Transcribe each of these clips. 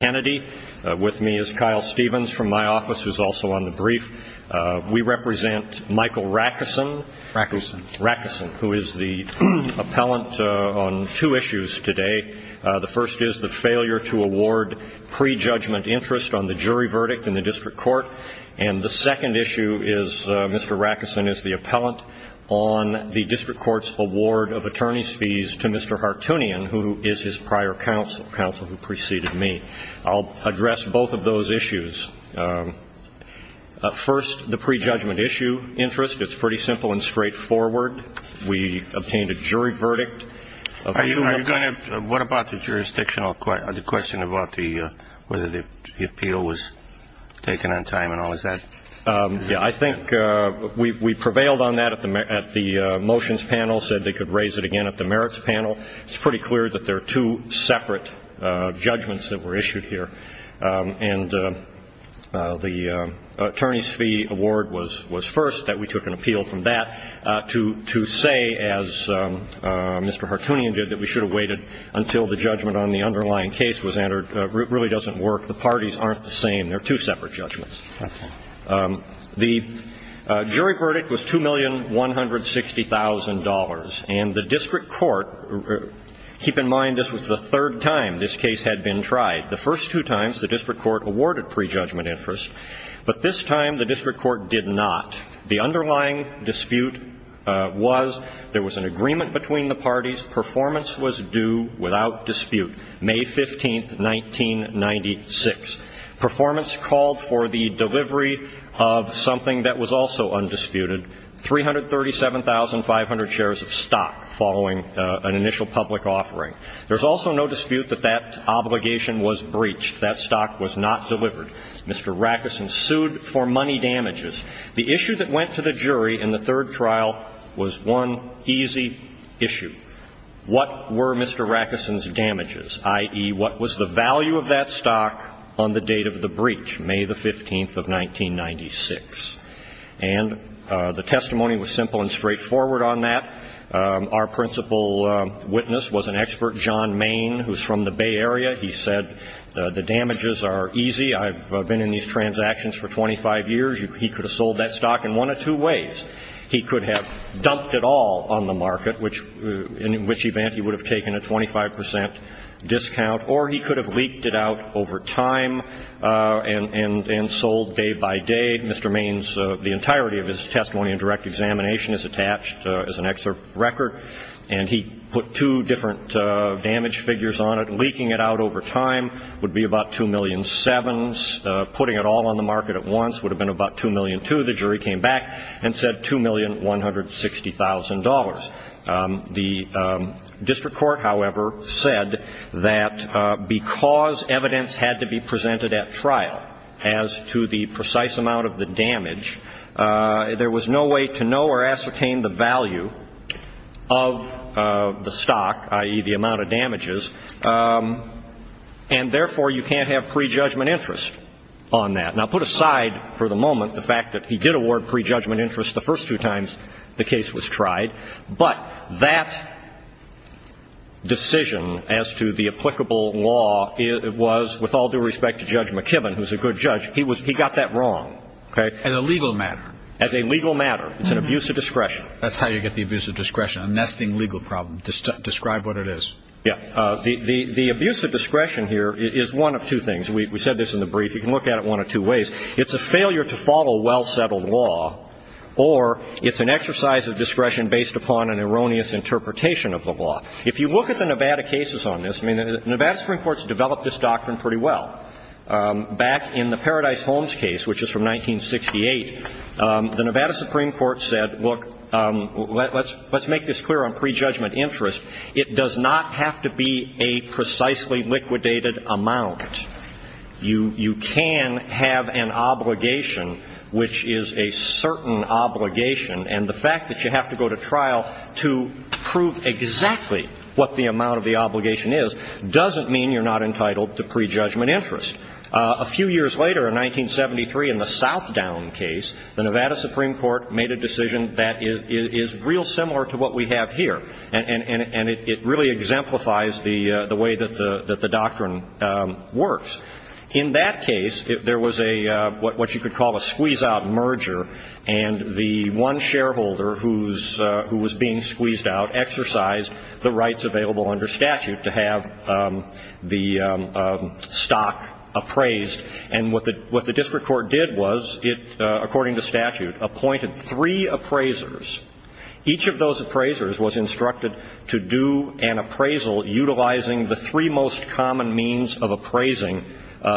Kennedy. With me is Kyle Stevens from my office, who's also on the brief. We represent Michael Racusin, who is the appellant on two issues today. The first is the failure to award prejudgment interest on the jury verdict in the district court. And the second issue is Mr. Racusin is the appellant on the district court's award of attorney's fees to Mr. Hartunian, who is his prior counsel, counsel who preceded me. I'll address both of those issues. First, the prejudgment issue interest. It's pretty simple and straightforward. We obtained a jury verdict. Are you going to, what about the jurisdictional, the question about the, whether the appeal was taken on time and all of that? Yeah, I think we prevailed on that at the motions panel, said they could raise it again at the merits panel. It's pretty clear that there are two separate judgments that were issued here. And the attorney's fee award was first, that we took an appeal from that to say, as Mr. Hartunian did, that we should have waited until the judgment on the underlying case was entered. It really doesn't work. The parties aren't the same. They're two separate judgments. The jury verdict was $2,160,000. And the district court, keep in mind this was the third time this case had been tried. The first two times, the district court awarded prejudgment interest. But this time, the district court did not. The underlying dispute was there was an agreement between the parties, performance was due without dispute, May 15th, 1996. Performance called for the delivery of something that was also undisputed, 337,500 shares of stock following an initial public offering. There's also no dispute that that obligation was breached. That stock was not delivered. Mr. Rackeson sued for money damages. The issue that went to the jury in the third trial was one easy issue. What were Mr. Rackeson's damages, i.e., what was the value of that stock on the date of the breach, May the 15th of 1996? And the testimony was simple and straightforward on that. Our principal witness was an expert, John Main, who's from the Bay Area. He said the damages are easy. I've been in these transactions for 25 years. He could have sold that stock in one of two ways. He could have dumped it all on the market, in which event he would have taken a 25 percent discount, or he could have leaked it out over time and sold day by day. Mr. Main's, the entirety of his testimony and direct examination is attached as an excerpt record, and he put two different damage figures on it. Leaking it out over time would be about 2,000,007. Putting it all on the market at once would have been about 2,000,002. The district court, however, said that because evidence had to be presented at trial as to the precise amount of the damage, there was no way to know or ascertain the value of the stock, i.e., the amount of damages, and therefore you can't have prejudgment interest on that. Now, put aside for the moment the fact that he did award prejudgment interest the first two times the case was tried, but that decision as to the applicable law was, with all due respect to Judge McKibben, who's a good judge, he got that wrong. As a legal matter. As a legal matter. It's an abuse of discretion. That's how you get the abuse of discretion, a nesting legal problem. Describe what it is. The abuse of discretion here is one of two things. We said this in the brief. You can look at it one of two ways. It's a failure to follow well-settled law or it's an exercise of discretion based upon an erroneous interpretation of the law. If you look at the Nevada cases on this, I mean, the Nevada Supreme Court's developed this doctrine pretty well. Back in the Paradise Holmes case, which is from 1968, the Nevada Supreme Court said, look, let's make this clear on precisely liquidated amount. You can have an obligation which is a certain obligation. And the fact that you have to go to trial to prove exactly what the amount of the obligation is doesn't mean you're not entitled to prejudgment interest. A few years later, in 1973, in the Southdown case, the Nevada Supreme Court made a decision that is real similar to what we have here. And it really exemplifies the way that the doctrine works. In that case, there was a, what you could call a squeeze-out merger. And the one shareholder who was being squeezed out exercised the rights available under statute to have the stock appraised. And what the district court did was it, according to statute, appointed three appraisers. Each of those appraisers was instructed to do an appraisal utilizing the three most common means of appraising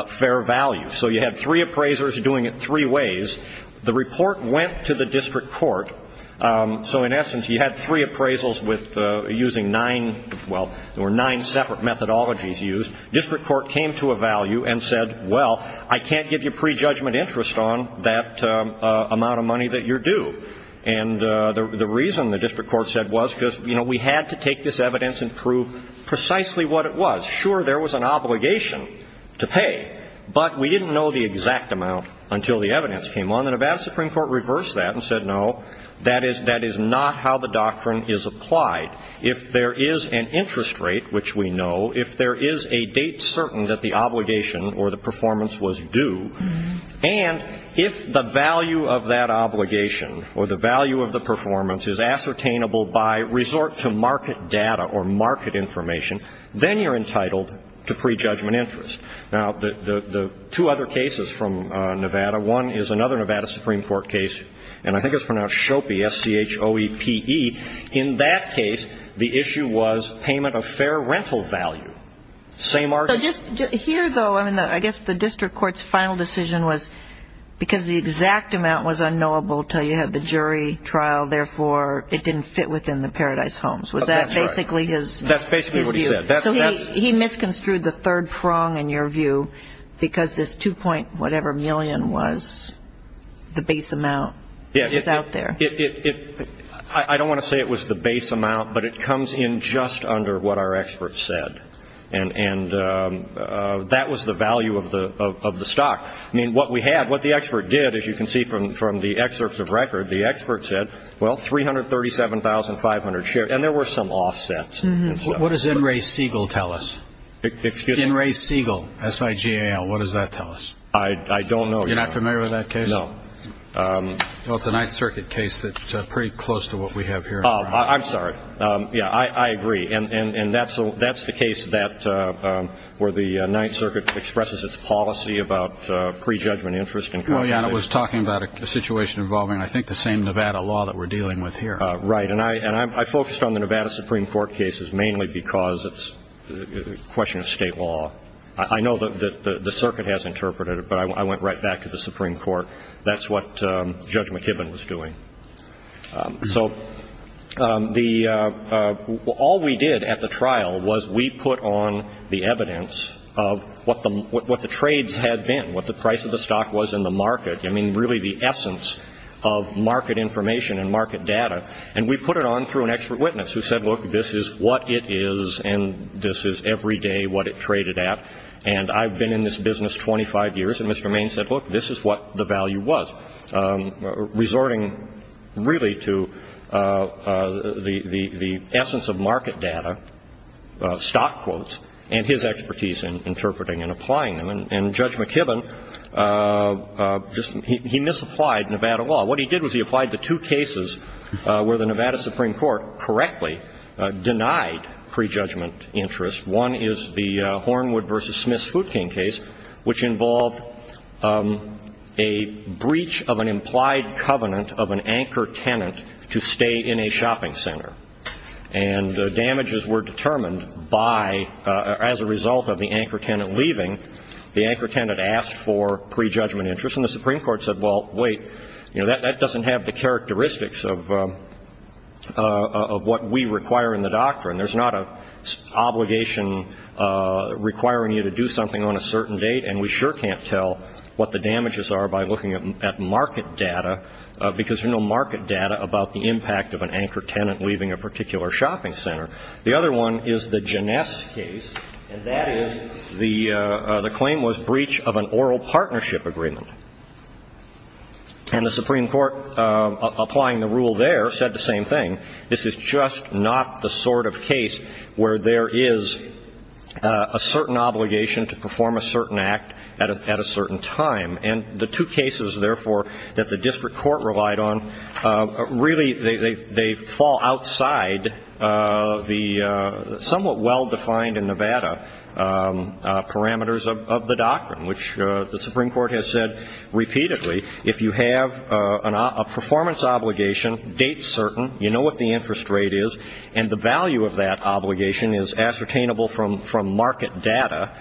fair value. So you had three appraisers doing it three ways. The report went to the district court. So in essence, you had three appraisals with using nine, well, there were nine separate methodologies used. District court came to a value and said, well, I can't give you prejudgment interest on that amount of money that you're due. And the reason, the district court said, was because, you know, we had to take this evidence and prove precisely what it was. Sure, there was an obligation to pay. But we didn't know the exact amount until the evidence came on. The Nevada Supreme Court reversed that and said, no, that is not how the doctrine is applied. If there is an interest rate, which we know, if there is a date certain that the obligation or the performance was due, and if the value of that obligation or the value of the performance is ascertainable by resort to market data or market information, then you're entitled to prejudgment interest. Now, the two other cases from Nevada, one is another Nevada Supreme Court case, and I think it's pronounced Schope, S-C-H-O-E-P-E. In that case, you're entitled to prejudgment interest. But here, though, I mean, I guess the district court's final decision was because the exact amount was unknowable until you had the jury trial, therefore, it didn't fit within the Paradise Homes. Was that basically his view? That's basically what he said. So he misconstrued the third prong in your view, because this 2-point-whatever-million was the base amount that was out there. I don't want to say it was the base amount, but it comes in just under what our experts said, and that was the value of the stock. I mean, what we had, what the expert did, as you can see from the excerpts of record, the expert said, well, $337,500 share, and there were some offsets as well. What does N. Ray Siegel tell us? Excuse me? N. Ray Siegel, S-I-G-A-L, what does that tell us? I don't know. You're not familiar with that case? No. Well, it's a Ninth Circuit case that's pretty close to what we have here. I'm sorry. Yeah, I agree. And that's the case where the Ninth Circuit expresses its policy about prejudgment interest. Well, yeah, and it was talking about a situation involving, I think, the same Nevada law that we're dealing with here. Right. And I focused on the Nevada Supreme Court cases mainly because it's a question of state law. I know that the circuit has interpreted it, but I went right back to the Supreme Court. That's what Judge McKibben was doing. So all we did at the trial was we put on the evidence of what the trades had been, what the price of the stock was in the market. I mean, really the essence of market information and market data. And we put it on through an expert witness who said, look, this is what it is, and this is every day what it traded at. And I've been in this business 25 years, and Mr. Maine said, look, this is what the value was. Resorting really to the essence of market data, stock quotes, and his expertise in interpreting and applying them. And Judge McKibben, he misapplied Nevada law. What he did was he applied the two cases where the Nevada Supreme Court correctly denied prejudgment interest. One is the Hornwood v. Smith-Sfutkin case, which involved a breach of an implied covenant of an anchor tenant to stay in a shopping center. And the damages were determined by, as a result of the anchor tenant leaving, the anchor tenant asked for prejudgment interest. And the Supreme Court said, well, wait, that doesn't have the characteristics of what we require in the doctrine. There's not an obligation requiring you to do something on a certain date, and we sure can't tell what the damages are by looking at market data, because there's no market data about the impact of an anchor tenant leaving a particular shopping center. The other one is the Janess case, and that is the claim was breach of an oral partnership agreement. And the Supreme Court, applying the rule there, said the same thing. This is just not the sort of case where there is a certain obligation to perform a certain act at a certain time. And the two cases, therefore, that the district court relied on, really they fall outside the somewhat well-defined in Nevada parameters of the doctrine, which the Supreme Court has said repeatedly, if you have a performance obligation, date certain, you know what the interest rate is, and the value of that obligation is ascertainable from market data,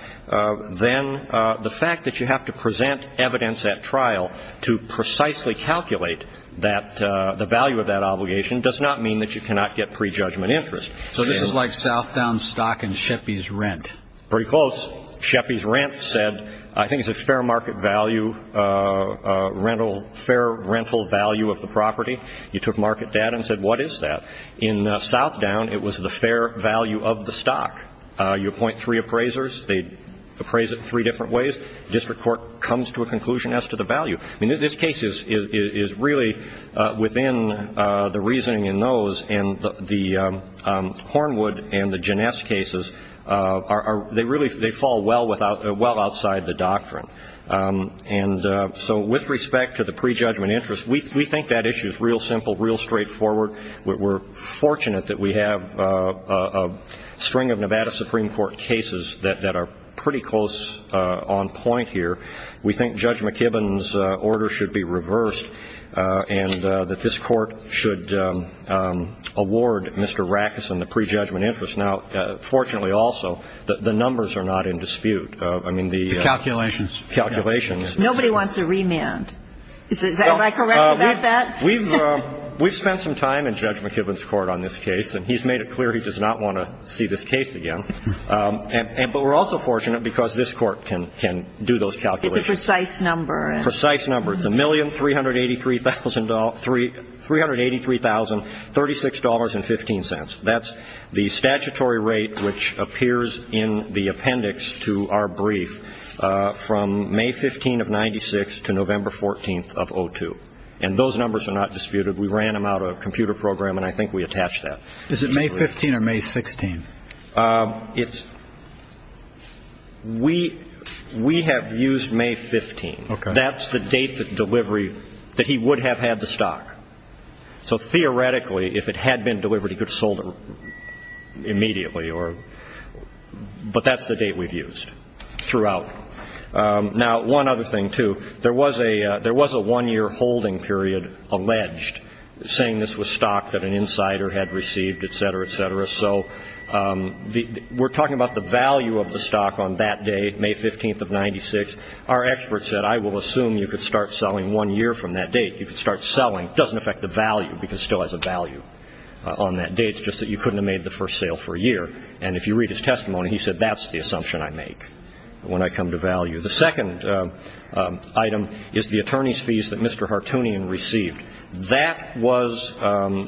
then the fact that you have to present evidence at trial to precisely calculate the value of that obligation does not mean that you cannot get prejudgment interest. So this is like Southdown stock and Sheppey's rent. Pretty close. Sheppey's rent said, I think it's a fair market value, fair rental value of the property. You took market data and said, what is that? In Southdown, it was the fair value of the stock. You appoint three appraisers. They appraise it three different ways. District court comes to a conclusion as to the value. I mean, this case is really within the reasoning in those. And the Hornwood and the Ginesse cases, they fall well outside the doctrine. And so with respect to the prejudgment interest, we think that issue is real simple, real straightforward. We're fortunate that we have a string of Nevada Supreme Court cases that are pretty close on point here. We think Judge McKibben's order should be reversed and that this court should award Mr. Rackeson the prejudgment interest. Now, fortunately also, the numbers are not in dispute. The calculations. Calculations. Nobody wants a remand. Am I correct about that? We've spent some time in Judge McKibben's court on this case, and he's made it clear he does not want to see this case again. But we're also fortunate because this court can do those calculations. It's a precise number. Precise number. It's $1,383,036.15. That's the statutory rate which appears in the appendix to our brief from May 15 of 1996 to November 14 of 2002. And those numbers are not disputed. We ran them out of a computer program, and I think we attached that. Is it May 15 or May 16? We have used May 15. That's the date of delivery that he would have had the stock. So theoretically, if it had been delivered, he could have sold it immediately. But that's the date we've used throughout. Now, one other thing, too. There was a one-year holding period alleged, saying this was stock that an insider had received, etc., etc. So we're talking about the value of the stock on that day, May 15 of 1996. Our expert said, I will assume you could start selling one year from that date. You could start selling. It doesn't affect the value because it still has a value on that date. It's just that you couldn't have made the first sale for a year. And if you read his testimony, he said, that's the assumption I make. When I come to value. The second item is the attorney's fees that Mr. Hartoonian received. That was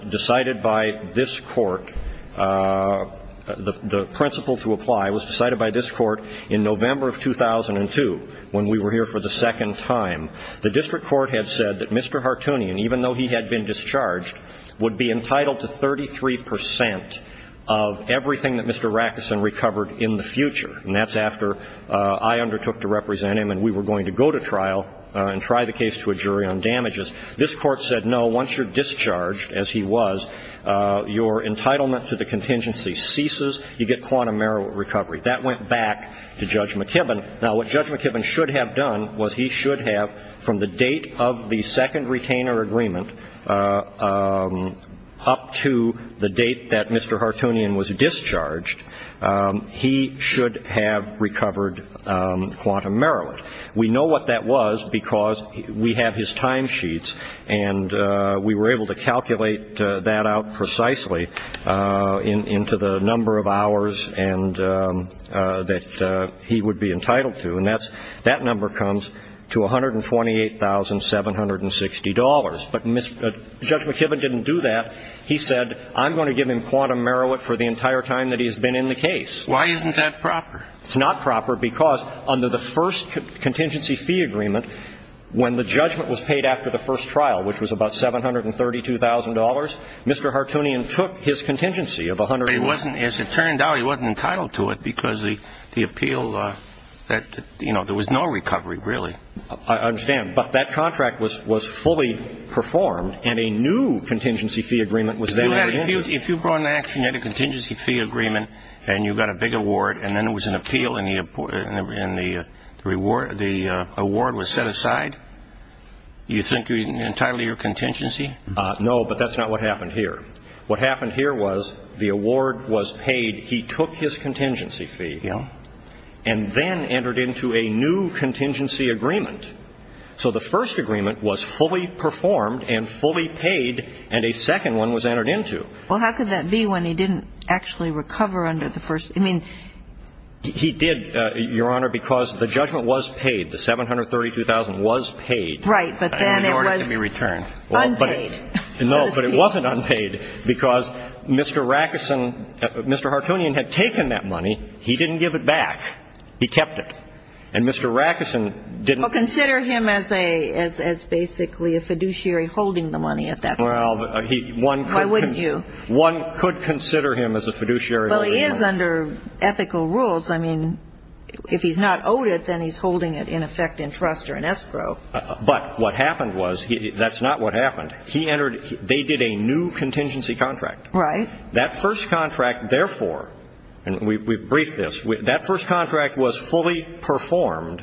decided by this court. The principle to apply was decided by this court in November of 2002, when we were here for the second time. The district court had said that Mr. Hartoonian, even though he had been discharged, would be entitled to 33 percent of everything that Mr. Rackeson recovered in the future. And that's after I undertook to represent him and we were going to go to trial and try the case to a jury on damages. This court said, no, once you're discharged, as he was, your entitlement to the contingency ceases. You get quantum merit recovery. That went back to Judge McKibben. Now, what Judge McKibben should have done was he should have, from the date of the second retainer agreement up to the date that Mr. Hartoonian was discharged, he should have recovered quantum merit. We know what that was because we have his timesheets and we were able to calculate that out precisely into the number of hours that he would be entitled to. And that number comes to $128,760. But Judge McKibben didn't do that. He said, I'm going to give him quantum merit for the entire time that he's been in the case. Why isn't that proper? It's not proper because under the first contingency fee agreement, when the judgment was paid after the first trial, which was about $732,000, Mr. Hartoonian took his contingency of $108,000. As it turned out, he wasn't entitled to it because the appeal that, you know, there was no recovery, really. I understand. But that contract was fully performed and a new contingency fee agreement was then entered into. If you brought an action, you had a contingency fee agreement and you got a big award and then it was an appeal and the award was set aside, you think you're entitled to your contingency? No, but that's not what happened here. What happened here was the award was paid, he took his contingency fee and then entered into a new contingency agreement. So the first agreement was fully performed and fully paid and a second one was entered into. Well, how could that be when he didn't actually recover under the first? I mean, he did, Your Honor, because the judgment was paid. The $732,000 was paid. Right, but then it was unpaid. No, but it wasn't unpaid because Mr. Rackeson, Mr. Hartoonian had taken that money. He didn't give it back. He kept it. And Mr. Rackeson didn't... Well, consider him as basically a fiduciary holding the money at that point. Why wouldn't you? One could consider him as a fiduciary. Well, he is under ethical rules. I mean, if he's not owed it, then he's holding it in effect in trust or in escrow. But what happened was, that's not what happened. They did a new contingency contract. Right. That first contract, therefore, and we've briefed this, that first contract was fully performed,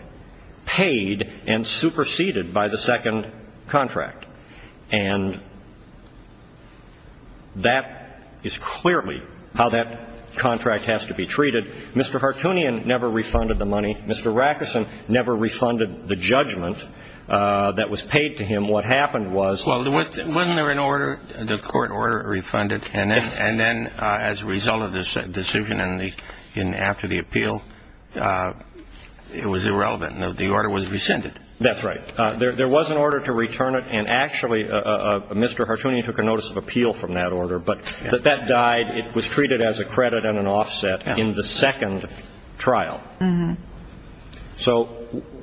paid, and superseded by the second contract. And that is clearly how that contract has to be treated. Mr. Hartoonian never refunded the money. Mr. Rackeson never refunded the judgment that was paid to him. What happened was... Then, as a result of this decision and after the appeal, it was irrelevant. The order was rescinded. That's right. There was an order to return it, and actually Mr. Hartoonian took a notice of appeal from that order. But that died. It was treated as a credit and an offset in the second trial. So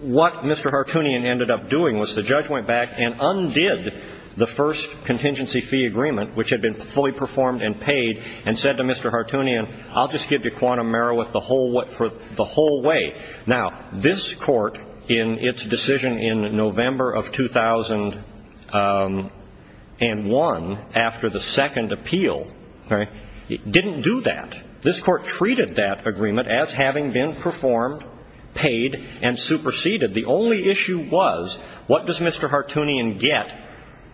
what Mr. Hartoonian ended up doing was the judge went back and undid the first contingency fee agreement, which had been fully performed and paid, and said to Mr. Hartoonian, I'll just give you quantum merit for the whole way. Now, this Court, in its decision in November of 2001, after the second appeal, didn't do that. This Court treated that agreement as having been performed, paid, and superseded. The only issue was, what does Mr. Hartoonian get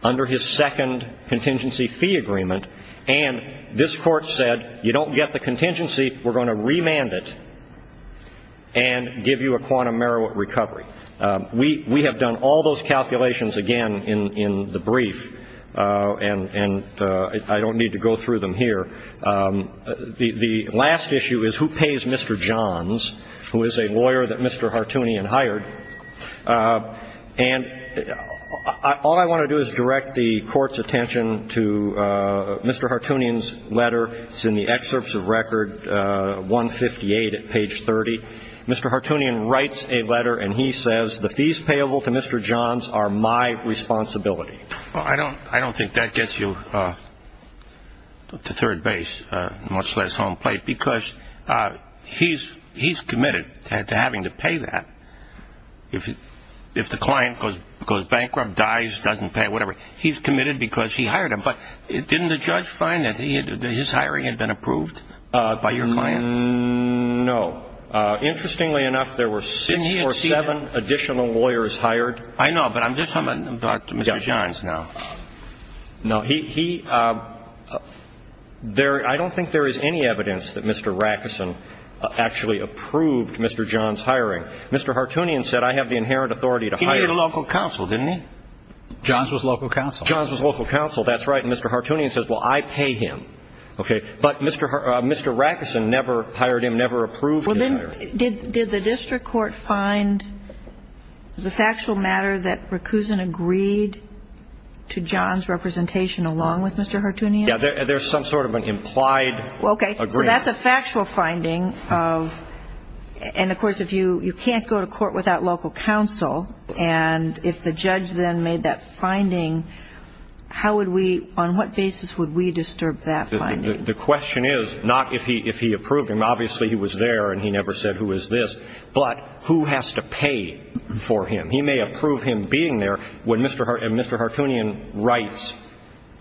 under his second contingency fee agreement? And this Court said, you don't get the contingency. We're going to remand it and give you a quantum merit recovery. We have done all those calculations again in the brief, and I don't need to go through them here. The last issue is, who pays Mr. Johns, who is a lawyer that Mr. Hartoonian hired? And all I want to do is direct the Court's attention to Mr. Hartoonian's letter. It's in the excerpts of Record 158 at page 30. Mr. Hartoonian writes a letter, and he says, the fees payable to Mr. Johns are my responsibility. Well, I don't think that gets you to third base, much less home plate, because he's committed to having to pay that. If the client goes bankrupt, dies, doesn't pay, whatever, he's committed because he hired him. But didn't the judge find that his hiring had been approved by your client? No. Interestingly enough, there were six or seven additional lawyers hired. I know, but I'm just talking about Mr. Johns now. No. He – I don't think there is any evidence that Mr. Rackerson actually approved Mr. Johns' hiring. Mr. Hartoonian said, I have the inherent authority to hire him. He needed a local counsel, didn't he? Johns was local counsel. Johns was local counsel, that's right. And Mr. Hartoonian says, well, I pay him. Okay. But Mr. Rackerson never hired him, never approved his hiring. Did the district court find the factual matter that Rackerson agreed to Johns' representation along with Mr. Hartoonian? Yeah, there's some sort of an implied agreement. Okay. So that's a factual finding of – and, of course, if you can't go to court without local counsel, and if the judge then made that finding, how would we – on what basis would we disturb that finding? The question is not if he approved him. Obviously, he was there and he never said, who is this? But who has to pay for him? He may approve him being there when Mr. Hartoonian writes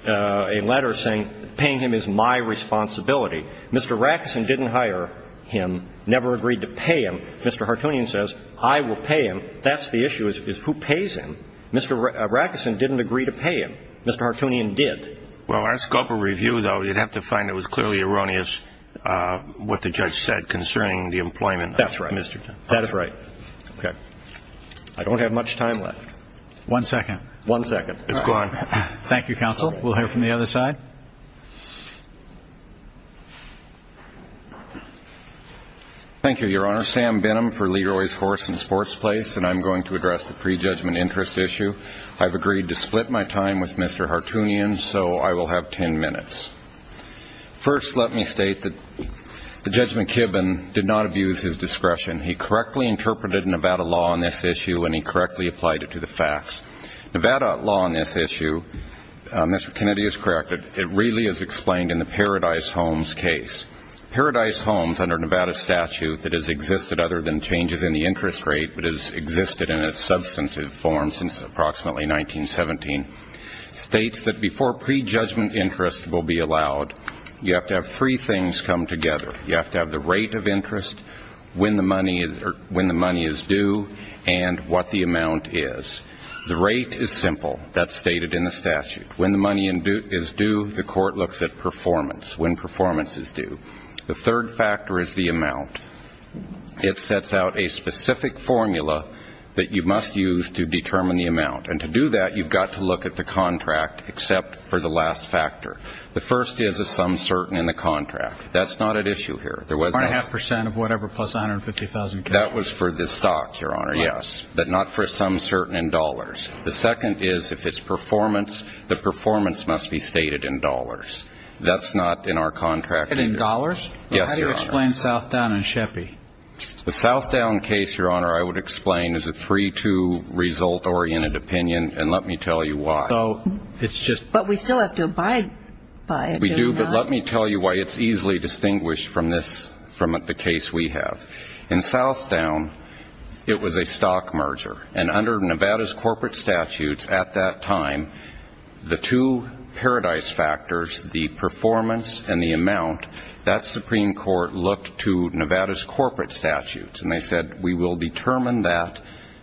a letter saying, paying him is my responsibility. Mr. Rackerson didn't hire him, never agreed to pay him. Mr. Hartoonian says, I will pay him. That's the issue, is who pays him? Mr. Rackerson didn't agree to pay him. Mr. Hartoonian did. Well, in our scope of review, though, you'd have to find it was clearly erroneous what the judge said concerning the employment of Mr. Hartoonian. That's right. Okay. I don't have much time left. One second. One second. It's gone. Thank you, counsel. We'll hear from the other side. Thank you, Your Honor. Sam Benham for Leroy's Horse and Sports Place, and I'm going to address the prejudgment interest issue. I've agreed to split my time with Mr. Hartoonian, so I will have ten minutes. First, let me state that Judge McKibben did not abuse his discretion. He correctly interpreted Nevada law on this issue, and he correctly applied it to the facts. Nevada law on this issue, Mr. Kennedy is correct, it really is explained in the Paradise Homes case. Paradise Homes under Nevada statute that has existed other than changes in the interest rate, but has existed in a substantive form since approximately 1917, states that before prejudgment interest will be allowed, you have to have three things come together. You have to have the rate of interest, when the money is due, and what the amount is. The rate is simple. That's stated in the statute. When the money is due, the court looks at performance, when performance is due. The third factor is the amount. It sets out a specific formula that you must use to determine the amount, and to do that you've got to look at the contract except for the last factor. The first is a sum certain in the contract. That's not at issue here. One-and-a-half percent of whatever plus 150,000 cash. That was for the stock, Your Honor, yes, but not for a sum certain in dollars. The second is if it's performance, the performance must be stated in dollars. That's not in our contract either. In dollars? Yes, Your Honor. How do you explain Southdown and Sheppey? The Southdown case, Your Honor, I would explain is a three-two result-oriented opinion, and let me tell you why. So it's just. But we still have to abide by it. We do, but let me tell you why it's easily distinguished from this, from the case we have. In Southdown, it was a stock merger, and under Nevada's corporate statutes at that time, the two paradise factors, the performance and the amount, that Supreme Court looked to Nevada's corporate statutes, and they said we will determine that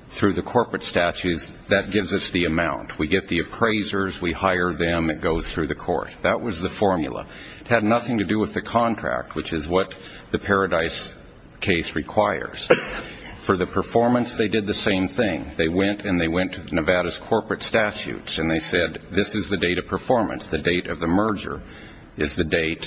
through the corporate statutes. That gives us the amount. We get the appraisers. We hire them. It goes through the court. That was the formula. It had nothing to do with the contract, which is what the paradise case requires. For the performance, they did the same thing. They went, and they went to Nevada's corporate statutes, and they said this is the date of performance. The date of the merger is the date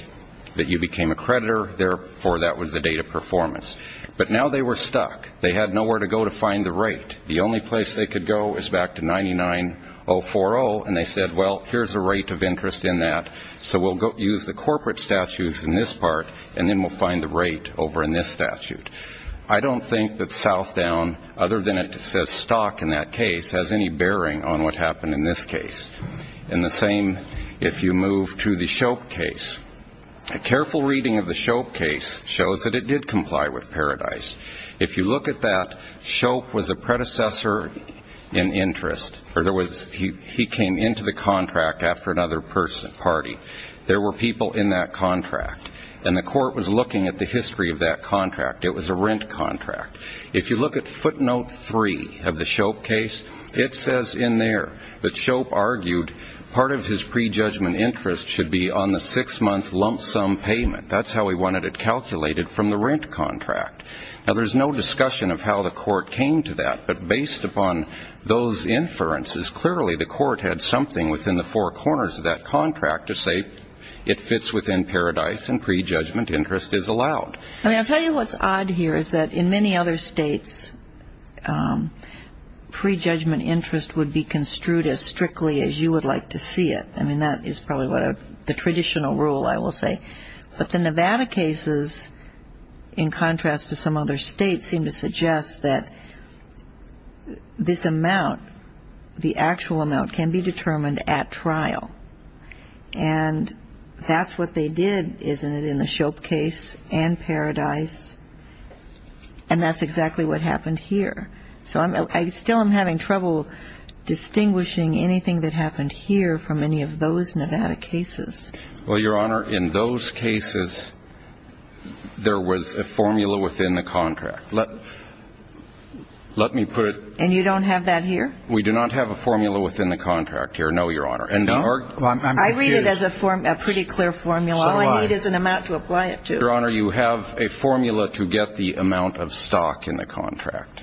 that you became a creditor. Therefore, that was the date of performance. But now they were stuck. They had nowhere to go to find the rate. The only place they could go is back to 99040, and they said, well, here's a rate of interest in that, so we'll use the corporate statutes in this part, and then we'll find the rate over in this statute. I don't think that Southdown, other than it says stock in that case, has any bearing on what happened in this case. And the same if you move to the Shope case. A careful reading of the Shope case shows that it did comply with Paradise. If you look at that, Shope was a predecessor in interest, or he came into the contract after another party. There were people in that contract, and the court was looking at the history of that contract. It was a rent contract. If you look at footnote three of the Shope case, it says in there that Shope argued part of his prejudgment interest should be on the six-month lump sum payment. That's how he wanted it calculated from the rent contract. Now, there's no discussion of how the court came to that, but based upon those inferences, clearly the court had something within the four corners of that contract to say it fits within Paradise and prejudgment interest is allowed. I mean, I'll tell you what's odd here is that in many other states, prejudgment interest would be construed as strictly as you would like to see it. I mean, that is probably the traditional rule, I will say. But the Nevada cases, in contrast to some other states, seem to suggest that this amount, the actual amount, can be determined at trial. And that's what they did, isn't it, in the Shope case and Paradise? And that's exactly what happened here. So I still am having trouble distinguishing anything that happened here from any of those Nevada cases. Well, Your Honor, in those cases, there was a formula within the contract. Let me put it... And you don't have that here? We do not have a formula within the contract here, no, Your Honor. I read it as a pretty clear formula. All I need is an amount to apply it to. Your Honor, you have a formula to get the amount of stock in the contract,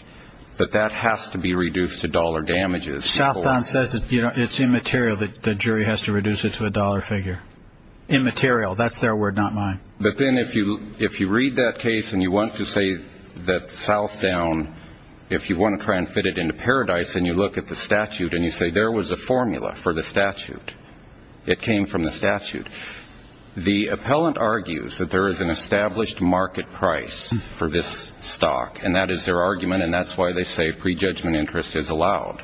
but that has to be reduced to dollar damages. Southdown says it's immaterial that the jury has to reduce it to a dollar figure. Immaterial, that's their word, not mine. But then if you read that case and you want to say that Southdown, if you want to try and fit it into Paradise and you look at the statute and you say, there was a formula for the statute, it came from the statute. The appellant argues that there is an established market price for this stock, and that is their argument, and that's why they say prejudgment interest is allowed.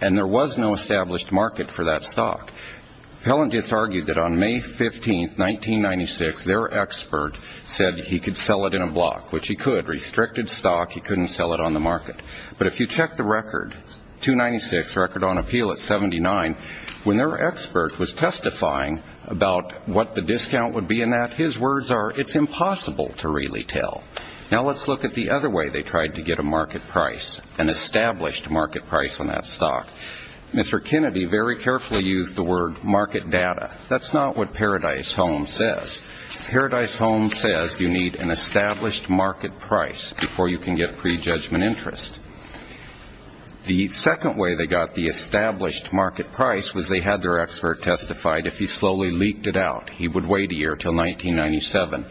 And there was no established market for that stock. The appellant just argued that on May 15, 1996, their expert said he could sell it in a block, which he could. Restricted stock, he couldn't sell it on the market. But if you check the record, 296, record on appeal at 79, when their expert was testifying about what the discount would be in that, his words are, it's impossible to really tell. Now let's look at the other way they tried to get a market price, an established market price on that stock. Mr. Kennedy very carefully used the word market data. That's not what Paradise Home says. Paradise Home says you need an established market price before you can get prejudgment interest. The second way they got the established market price was they had their expert testify if he slowly leaked it out. He would wait a year until 1997.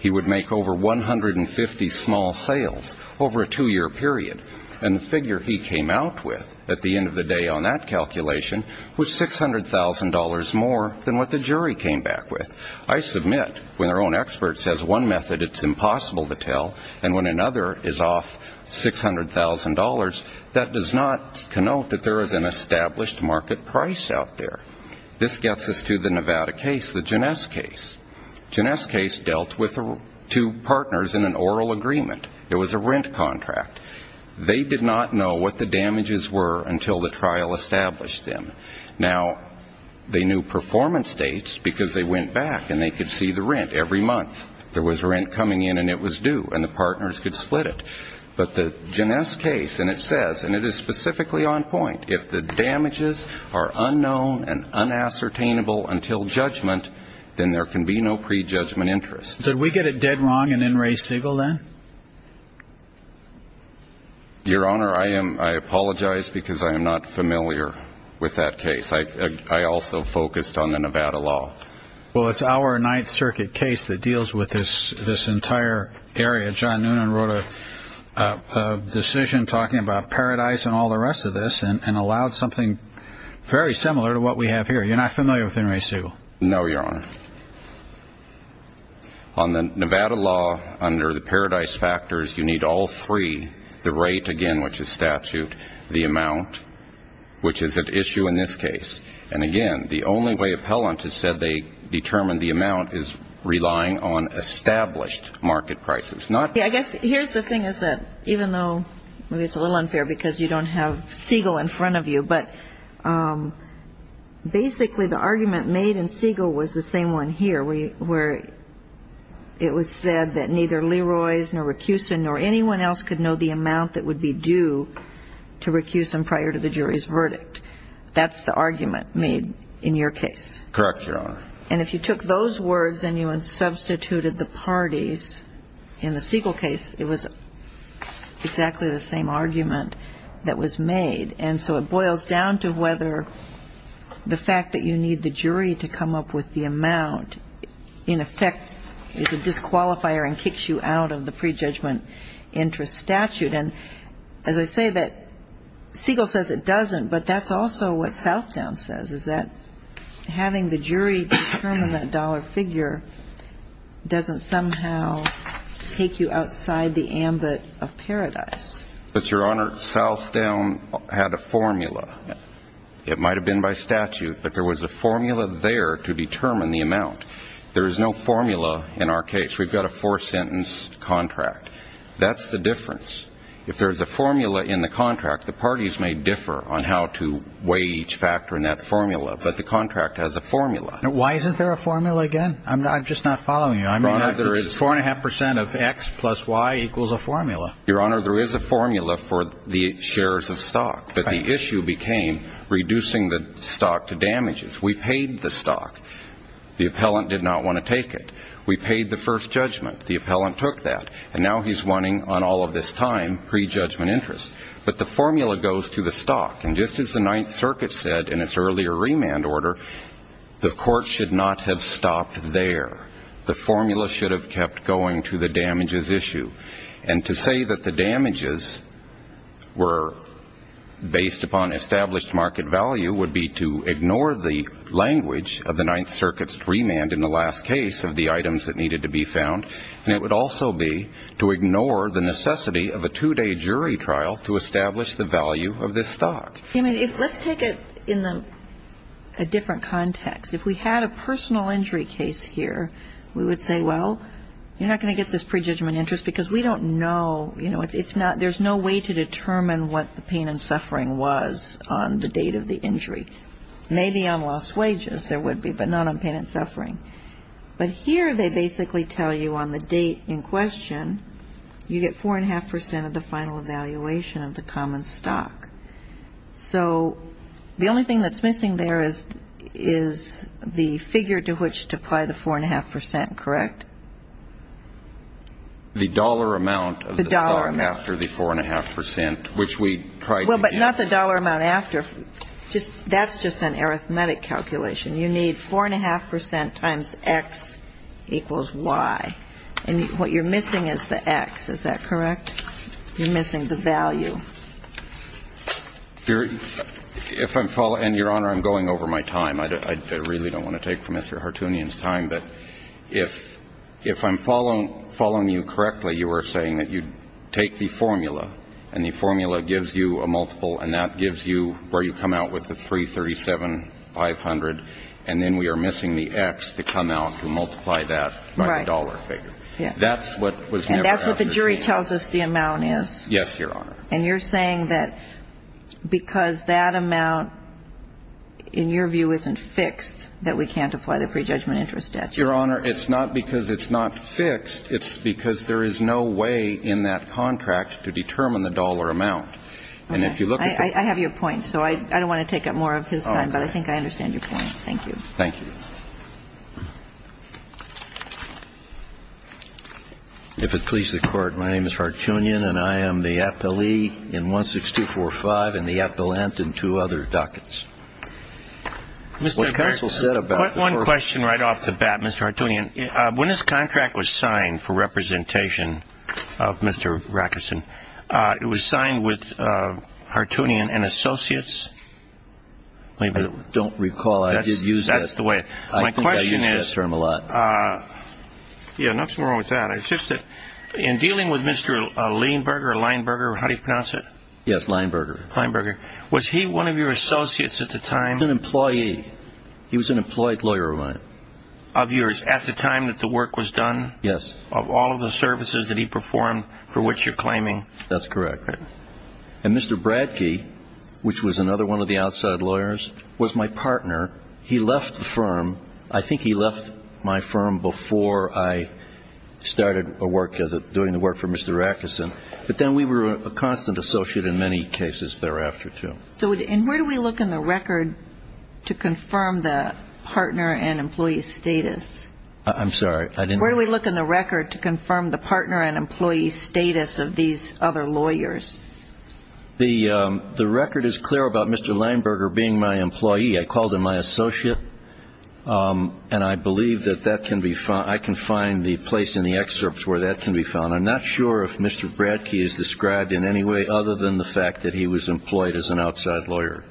He would make over 150 small sales over a two-year period, and the figure he came out with at the end of the day on that calculation was $600,000 more than what the jury came back with. I submit, when their own expert says one method, it's impossible to tell, and when another is off $600,000, that does not connote that there is an established market price out there. This gets us to the Nevada case, the Jeunesse case. Jeunesse case dealt with two partners in an oral agreement. It was a rent contract. They did not know what the damages were until the trial established them. Now, they knew performance dates because they went back and they could see the rent every month. There was rent coming in and it was due, and the partners could split it. But the Jeunesse case, and it says, and it is specifically on point, if the damages are unknown and unassertainable until judgment, then there can be no prejudgment interest. Did we get it dead wrong in N. Ray Siegel then? Your Honor, I apologize because I am not familiar with that case. I also focused on the Nevada law. Well, it's our Ninth Circuit case that deals with this entire area. John Noonan wrote a decision talking about Paradise and all the rest of this and allowed something very similar to what we have here. You're not familiar with N. Ray Siegel? No, Your Honor. On the Nevada law, under the Paradise factors, you need all three. The rate, again, which is statute. The amount, which is at issue in this case. And again, the only way appellant has said they determined the amount is relying on established market prices. I guess here's the thing is that even though maybe it's a little unfair because you don't have Siegel in front of you, but basically the argument made in Siegel was the same one here where it was said that neither Leroy's nor Rackusen nor anyone else could know the amount that would be due to Rackusen prior to the jury's verdict. That's the argument made in your case. Correct, Your Honor. And if you took those words and you substituted the parties in the Siegel case, it was exactly the same argument that was made. And so it boils down to whether the fact that you need the jury to come up with the amount, in effect, is a disqualifier and kicks you out of the prejudgment interest statute. And as I say, Siegel says it doesn't, but that's also what Southdown says, is that having the jury determine that dollar figure doesn't somehow take you outside the ambit of Paradise. But, Your Honor, Southdown had a formula. It might have been by statute, but there was a formula there to determine the amount. There is no formula in our case. We've got a four-sentence contract. That's the difference. If there's a formula in the contract, the parties may differ on how to weigh each factor in that formula, but the contract has a formula. Why isn't there a formula again? I'm just not following you. Four and a half percent of X plus Y equals a formula. Your Honor, there is a formula for the shares of stock, but the issue became reducing the stock to damages. We paid the stock. The appellant did not want to take it. We paid the first judgment. The appellant took that, and now he's wanting, on all of this time, prejudgment interest. But the formula goes to the stock, and just as the Ninth Circuit said in its earlier remand order, the court should not have stopped there. The formula should have kept going to the damages issue. And to say that the damages were based upon established market value would be to ignore the language of the Ninth Circuit's remand in the last case of the items that needed to be found, and it would also be to ignore the necessity of a two-day jury trial to establish the value of this stock. Let's take it in a different context. If we had a personal injury case here, we would say, well, you're not going to get this prejudgment interest because we don't know, you know, there's no way to determine what the pain and suffering was on the date of the injury. Maybe on lost wages there would be, but not on pain and suffering. But here they basically tell you on the date in question, you get 4.5 percent of the final evaluation of the common stock. So the only thing that's missing there is the figure to which to apply the 4.5 percent, correct? The dollar amount of the stock after the 4.5 percent, which we tried to get. Well, but not the dollar amount after. That's just an arithmetic calculation. You need 4.5 percent times X equals Y. And what you're missing is the X. Is that correct? You're missing the value. If I'm following, and, Your Honor, I'm going over my time. I really don't want to take from Mr. Hartoonian's time. But if I'm following you correctly, you are saying that you take the formula, and the formula gives you a multiple, and that gives you where you come out with the 337,500, and then we are missing the X to come out and multiply that by the dollar figure. That's what was never answered. The jury tells us the amount is. Yes, Your Honor. And you're saying that because that amount, in your view, isn't fixed, that we can't apply the prejudgment interest statute. Your Honor, it's not because it's not fixed. It's because there is no way in that contract to determine the dollar amount. And if you look at the point. I have your point. So I don't want to take up more of his time, but I think I understand your point. Thank you. Thank you. If it please the Court, my name is Hartoonian, and I am the appellee in 16245 and the appellant in two other dockets. Mr. Rackerson. One question right off the bat, Mr. Hartoonian. When this contract was signed for representation of Mr. Rackerson, it was signed with Hartoonian and Associates? I don't recall. I did use that. That's the way. I think I used that term a lot. My question is, yeah, nothing wrong with that. It's just that in dealing with Mr. Lienberger, Lienberger, how do you pronounce it? Yes, Lienberger. Lienberger. Was he one of your associates at the time? He was an employee. He was an employed lawyer of mine. Of yours at the time that the work was done? Yes. Of all of the services that he performed for which you're claiming? That's correct. And Mr. Bradkey, which was another one of the outside lawyers, was my partner. He left the firm. I think he left my firm before I started doing the work for Mr. Rackerson. But then we were a constant associate in many cases thereafter, too. And where do we look in the record to confirm the partner and employee status? I'm sorry. Where do we look in the record to confirm the partner and employee status of these other lawyers? The record is clear about Mr. Lienberger being my employee. I called him my associate, and I believe that that can be found. I can find the place in the excerpts where that can be found. I'm not sure if Mr. Bradkey is described in any way other than the fact that he was employed as an outside lawyer.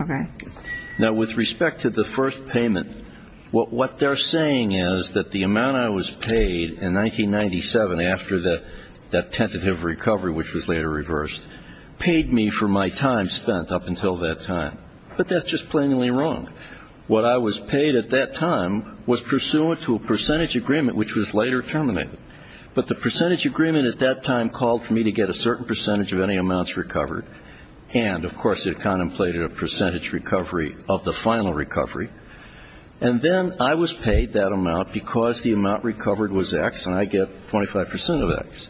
Okay. Now, with respect to the first payment, what they're saying is that the amount I was paid in 1997 after that tentative recovery, which was later reversed, paid me for my time spent up until that time. But that's just plainly wrong. What I was paid at that time was pursuant to a percentage agreement, which was later terminated. But the percentage agreement at that time called for me to get a certain percentage of any amounts recovered, and, of course, it contemplated a percentage recovery of the final recovery. And then I was paid that amount because the amount recovered was X, and I get 25% of X.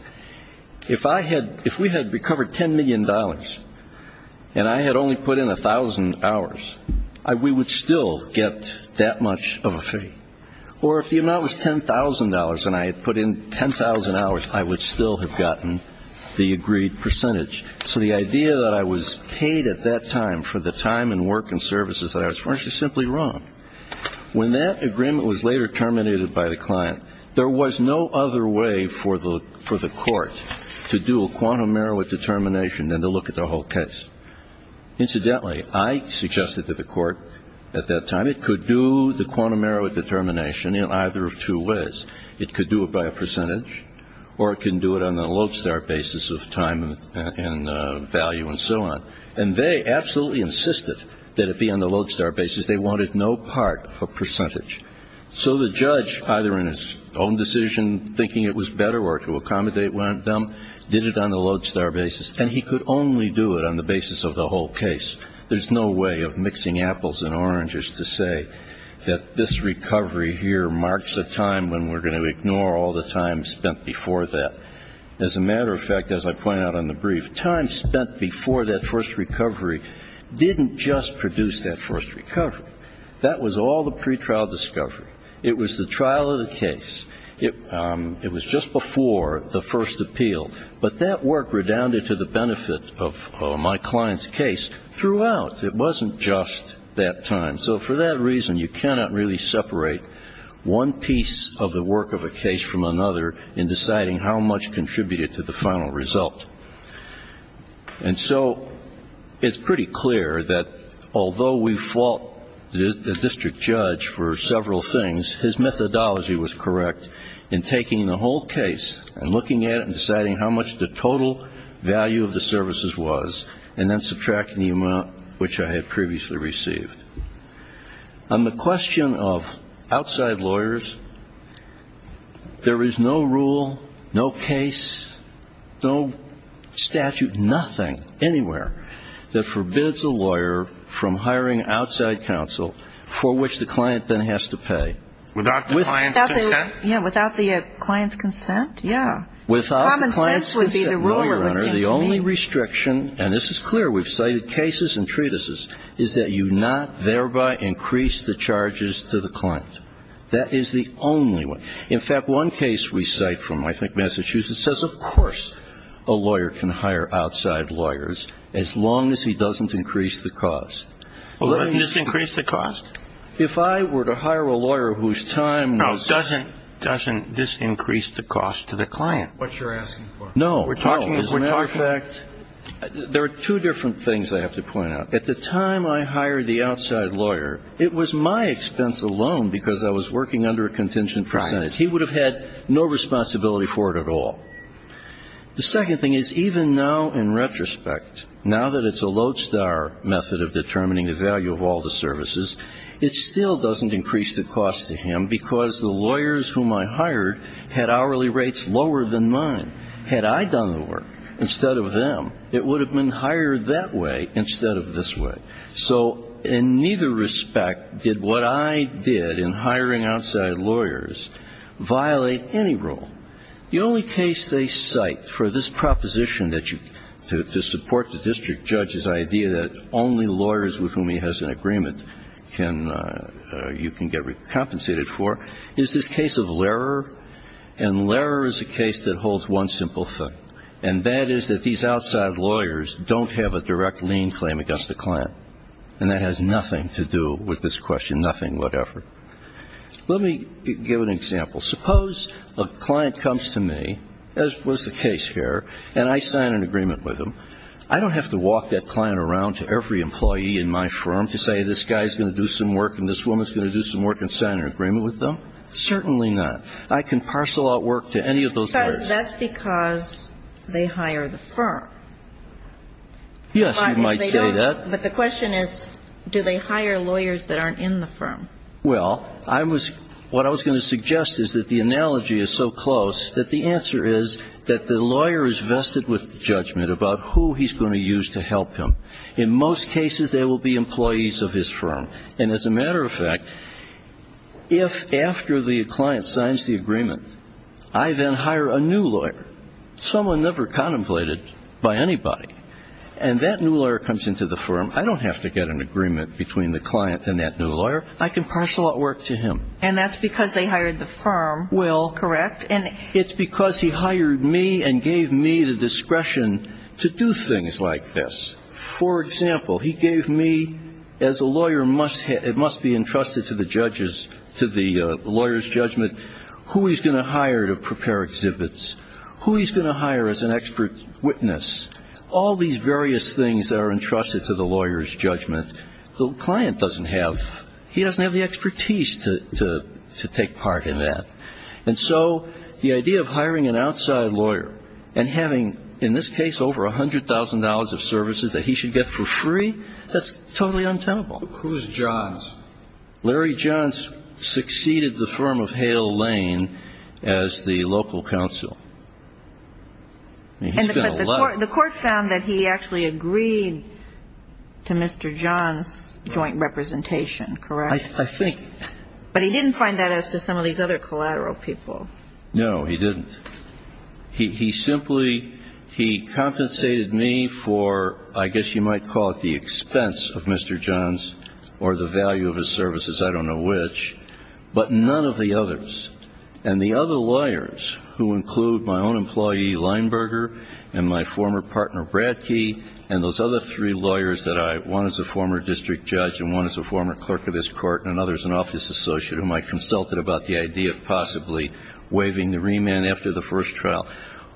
If we had recovered $10 million and I had only put in 1,000 hours, we would still get that much of a fee. Or if the amount was $10,000 and I had put in 10,000 hours, I would still have gotten the agreed percentage. So the idea that I was paid at that time for the time and work and services that I was, well, it's just simply wrong. When that agreement was later terminated by the client, there was no other way for the court to do a quantum merit determination than to look at the whole case. Incidentally, I suggested to the court at that time it could do the quantum merit determination in either of two ways. It could do it by a percentage, or it can do it on the lodestar basis of time and value and so on. And they absolutely insisted that it be on the lodestar basis. They wanted no part of percentage. So the judge, either in his own decision, thinking it was better or to accommodate them, did it on the lodestar basis, and he could only do it on the basis of the whole case. There's no way of mixing apples and oranges to say that this recovery here marks a time when we're going to ignore all the time spent before that. As a matter of fact, as I point out on the brief, time spent before that first recovery didn't just produce that first recovery. That was all the pretrial discovery. It was the trial of the case. It was just before the first appeal. But that work redounded to the benefit of my client's case throughout. It wasn't just that time. And so for that reason, you cannot really separate one piece of the work of a case from another in deciding how much contributed to the final result. And so it's pretty clear that although we fault the district judge for several things, his methodology was correct in taking the whole case and looking at it value of the services was and then subtracting the amount which I had previously received. On the question of outside lawyers, there is no rule, no case, no statute, nothing, anywhere, that forbids a lawyer from hiring outside counsel for which the client then has to pay. Without the client's consent? Yeah, without the client's consent, yeah. Common sense would be the rule it would seem to me. The only restriction, and this is clear, we've cited cases and treatises, is that you not thereby increase the charges to the client. That is the only one. In fact, one case we cite from, I think, Massachusetts, says of course a lawyer can hire outside lawyers as long as he doesn't increase the cost. Well, doesn't this increase the cost? If I were to hire a lawyer whose time now is No, doesn't this increase the cost to the client? What you're asking for? No, no. As a matter of fact, there are two different things I have to point out. At the time I hired the outside lawyer, it was my expense alone because I was working under a contingent percentage. Right. He would have had no responsibility for it at all. The second thing is even now in retrospect, now that it's a lodestar method of determining the value of all the services, it still doesn't increase the cost to him because the lawyers whom I hired had hourly rates lower than mine. Had I done the work instead of them, it would have been hired that way instead of this way. So in neither respect did what I did in hiring outside lawyers violate any rule. The only case they cite for this proposition that you to support the district judge's idea that only lawyers with whom he has an agreement you can get recompensated for is this case of Lehrer. And Lehrer is a case that holds one simple thing, and that is that these outside lawyers don't have a direct lien claim against the client. And that has nothing to do with this question, nothing whatever. Let me give an example. Suppose a client comes to me, as was the case here, and I sign an agreement with them. I don't have to walk that client around to every employee in my firm to say this guy is going to do some work and this woman is going to do some work and sign an agreement with them. Certainly not. I can parcel out work to any of those lawyers. Because that's because they hire the firm. Yes, you might say that. But the question is do they hire lawyers that aren't in the firm? Well, I was what I was going to suggest is that the analogy is so close that the answer is that the lawyer is vested with judgment about who he's going to use to help him. In most cases they will be employees of his firm. And as a matter of fact, if after the client signs the agreement I then hire a new lawyer, someone never contemplated by anybody, and that new lawyer comes into the firm, I don't have to get an agreement between the client and that new lawyer. I can parcel out work to him. And that's because they hired the firm. Well, correct. It's because he hired me and gave me the discretion to do things like this. For example, he gave me, as a lawyer must be entrusted to the judges, to the lawyer's judgment, who he's going to hire to prepare exhibits, who he's going to hire as an expert witness, all these various things that are entrusted to the lawyer's judgment. The client doesn't have the expertise to take part in that. And so the idea of hiring an outside lawyer and having, in this case, over $100,000 of services that he should get for free, that's totally untenable. Who's Johns? Larry Johns succeeded the firm of Hale Lane as the local counsel. I mean, he's got a lot of ---- But the court found that he actually agreed to Mr. Johns' joint representation, correct? I think ---- But he didn't find that as to some of these other collateral people. No, he didn't. He simply ---- he compensated me for, I guess you might call it the expense of Mr. Johns or the value of his services, I don't know which, but none of the others. And the other lawyers who include my own employee, Leinberger, and my former partner, Bradkey, and those other three lawyers that I ---- one is a former district judge and one is a former clerk of this court and another is an office associate whom I consulted about the idea of possibly waiving the remand after the first trial.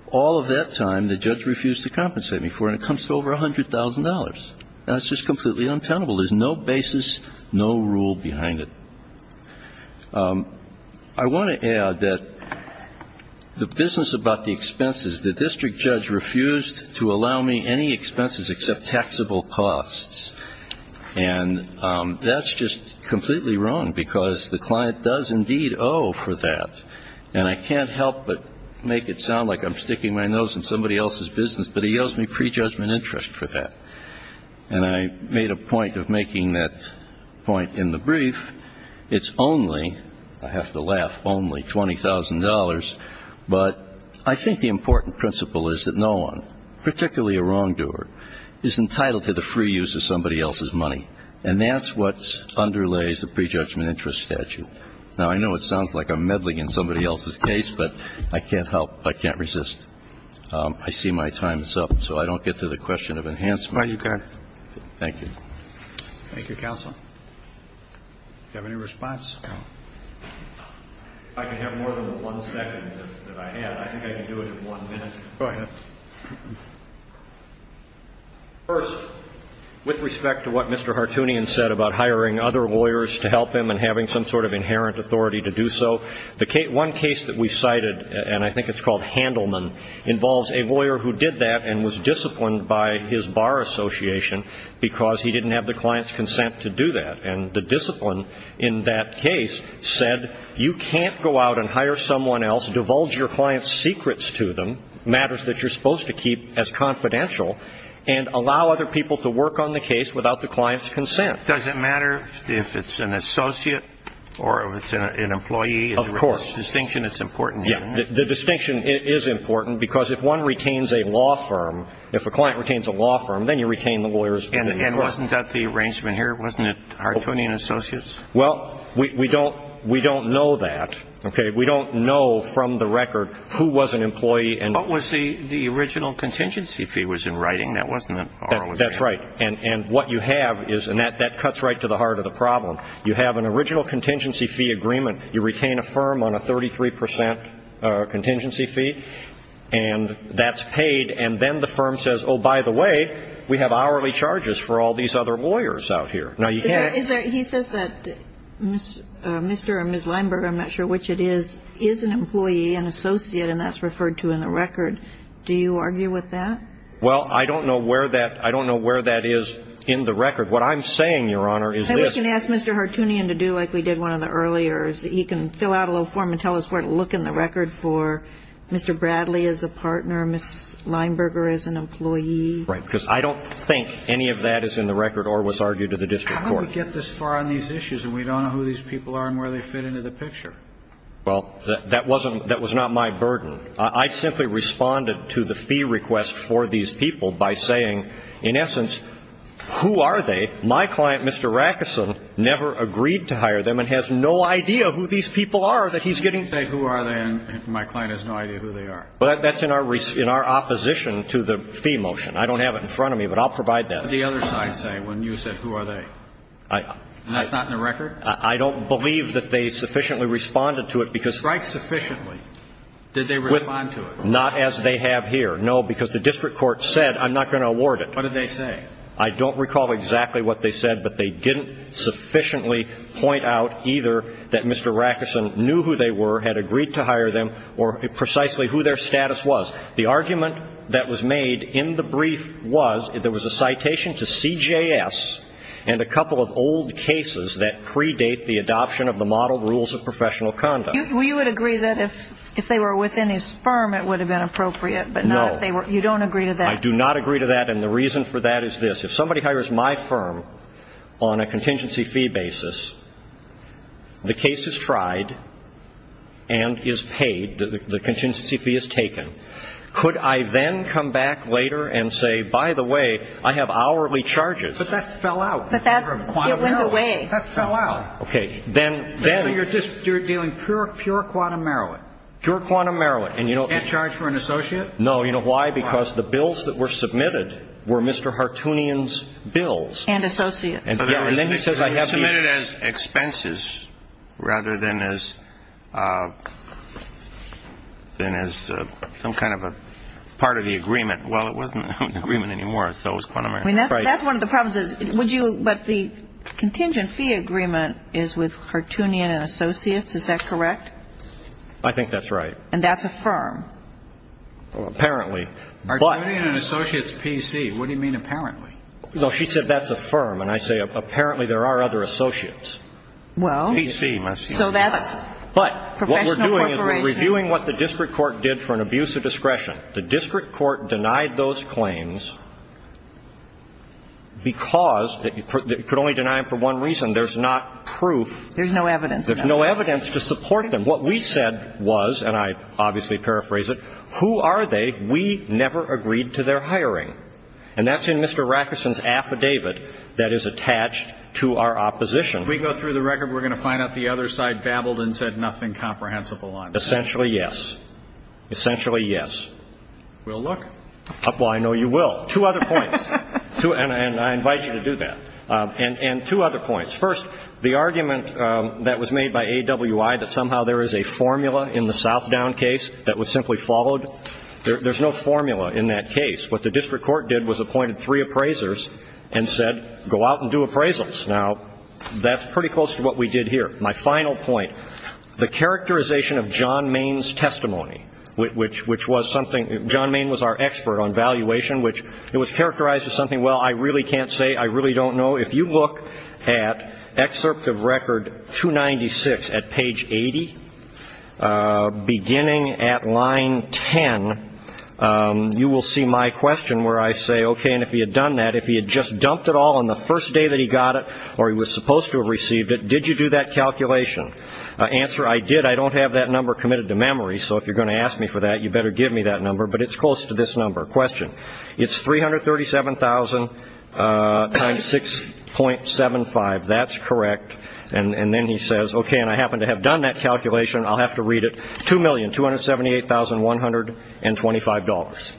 All of that time, the judge refused to compensate me for it, and it comes to over $100,000. That's just completely untenable. There's no basis, no rule behind it. I want to add that the business about the expenses, the district judge refused to allow me any expenses except taxable costs. And that's just completely wrong because the client does indeed owe for that. And I can't help but make it sound like I'm sticking my nose in somebody else's business, but he owes me prejudgment interest for that. And I made a point of making that point in the brief. It's only, I have to laugh, only $20,000. But I think the important principle is that no one, particularly a wrongdoer, is entitled to the free use of somebody else's money. And that's what underlays the prejudgment interest statute. Now, I know it sounds like I'm meddling in somebody else's case, but I can't help, I can't resist. I see my time is up, so I don't get to the question of enhancement. Thank you. Thank you, counsel. Do you have any response? If I can have more than one second that I have, I think I can do it in one minute. Go ahead. First, with respect to what Mr. Hartoonian said about hiring other lawyers to help him and having some sort of inherent authority to do so, one case that we cited, and I think it's called Handelman, involves a lawyer who did that and was disciplined by his bar association because he didn't have the client's consent to do that. And the discipline in that case said you can't go out and hire someone else, divulge your client's secrets to them, matters that you're supposed to keep as confidential, and allow other people to work on the case without the client's consent. Does it matter if it's an associate or if it's an employee? Of course. The distinction is important. Yeah, the distinction is important because if one retains a law firm, if a client retains a law firm, then you retain the lawyers. And wasn't that the arrangement here? Wasn't it Hartoonian Associates? Well, we don't know that. Okay. We don't know from the record who was an employee. What was the original contingency fee was in writing. That wasn't an hourly fee. That's right. And what you have is, and that cuts right to the heart of the problem, you have an original contingency fee agreement. You retain a firm on a 33 percent contingency fee, and that's paid. And then the firm says, oh, by the way, we have hourly charges for all these other lawyers out here. He says that Mr. or Ms. Lineberger, I'm not sure which it is, is an employee, an associate, and that's referred to in the record. Do you argue with that? Well, I don't know where that is in the record. What I'm saying, Your Honor, is this. Then we can ask Mr. Hartoonian to do like we did one of the earliers. He can fill out a little form and tell us where to look in the record for Mr. Bradley as a partner, Ms. Lineberger as an employee. Right, because I don't think any of that is in the record or was argued to the district court. How did we get this far on these issues, and we don't know who these people are and where they fit into the picture? Well, that wasn't my burden. I simply responded to the fee request for these people by saying, in essence, who are they? My client, Mr. Rackeson, never agreed to hire them and has no idea who these people are that he's getting. You didn't say who are they, and my client has no idea who they are. Well, that's in our opposition to the fee motion. I don't have it in front of me, but I'll provide that. What did the other side say when you said, who are they? And that's not in the record? I don't believe that they sufficiently responded to it because they're not as they have here. No, because the district court said, I'm not going to award it. What did they say? I don't recall exactly what they said, but they didn't sufficiently point out either that Mr. The argument that was made in the brief was there was a citation to C.J.S. and a couple of old cases that predate the adoption of the model rules of professional conduct. Well, you would agree that if they were within his firm, it would have been appropriate. No. You don't agree to that? I do not agree to that, and the reason for that is this. If somebody hires my firm on a contingency fee basis, the case is tried and is paid. The contingency fee is taken. Could I then come back later and say, by the way, I have hourly charges? But that fell out. But that went away. It went away. That fell out. Okay. So you're dealing pure quantum merolat? Pure quantum merolat. Can't charge for an associate? No. You know why? Because the bills that were submitted were Mr. Hartoonian's bills. And associates. And then he says I have the ---- But it was submitted as expenses rather than as some kind of a part of the agreement. Well, it wasn't an agreement anymore, so it was quantum merolat. That's one of the problems is would you ---- but the contingency agreement is with Hartoonian and associates. Is that correct? I think that's right. And that's a firm? Apparently. Hartoonian and associates PC. What do you mean apparently? No, she said that's a firm. And I say apparently there are other associates. Well, so that's professional corporation. But what we're doing is we're reviewing what the district court did for an abuse of discretion. The district court denied those claims because you could only deny them for one reason. There's not proof. There's no evidence. There's no evidence to support them. And what we said was, and I obviously paraphrase it, who are they? We never agreed to their hiring. And that's in Mr. Rackerson's affidavit that is attached to our opposition. If we go through the record, we're going to find out the other side babbled and said nothing comprehensible. Essentially, yes. Essentially, yes. We'll look. Well, I know you will. Two other points. And I invite you to do that. And two other points. First, the argument that was made by AWI that somehow there is a formula in the Southdown case that was simply followed, there's no formula in that case. What the district court did was appointed three appraisers and said, go out and do appraisals. Now, that's pretty close to what we did here. My final point, the characterization of John Main's testimony, which was something, John Main was our expert on valuation, which it was characterized as something, well, I really can't say. I really don't know. If you look at excerpt of record 296 at page 80, beginning at line 10, you will see my question where I say, okay, and if he had done that, if he had just dumped it all on the first day that he got it or he was supposed to have received it, did you do that calculation? Answer, I did. I don't have that number committed to memory. So if you're going to ask me for that, you better give me that number. But it's close to this number. It's 337,000 times 6.75. That's correct. And then he says, okay, and I happen to have done that calculation. I'll have to read it. $2,278,125.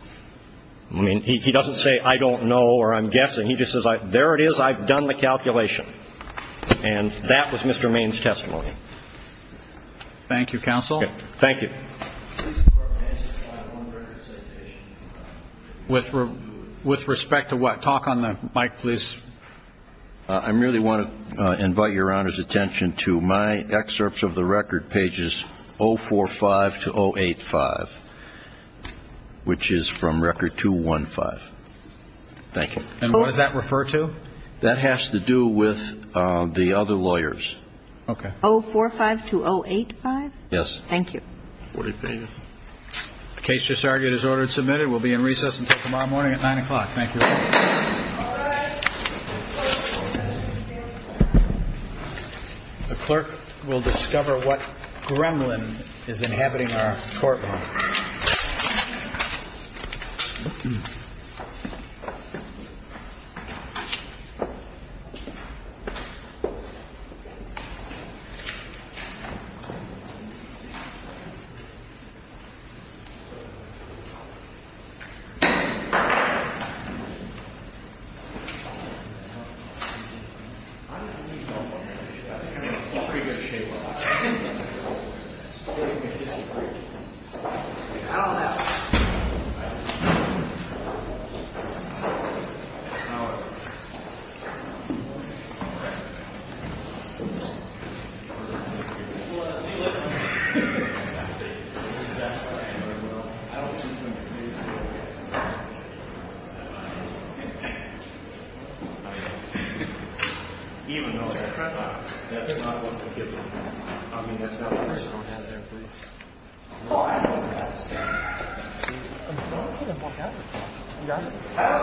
I mean, he doesn't say I don't know or I'm guessing. He just says, there it is. I've done the calculation. And that was Mr. Main's testimony. Thank you, counsel. Thank you. With respect to what? Talk on the mic, please. I merely want to invite Your Honor's attention to my excerpts of the record, pages 045 to 085, which is from record 215. Thank you. And what does that refer to? That has to do with the other lawyers. Okay. 045 to 085? Yes. Thank you. 045. The case just argued is ordered and submitted. We'll be in recess until tomorrow morning at 9 o'clock. Thank you. All rise. The clerk will discover what gremlin is inhabiting our courtroom. Even though that's not what the gremlin is. I mean, that's not what the gremlin is. Well, I don't understand. I don't understand what happened. You guys.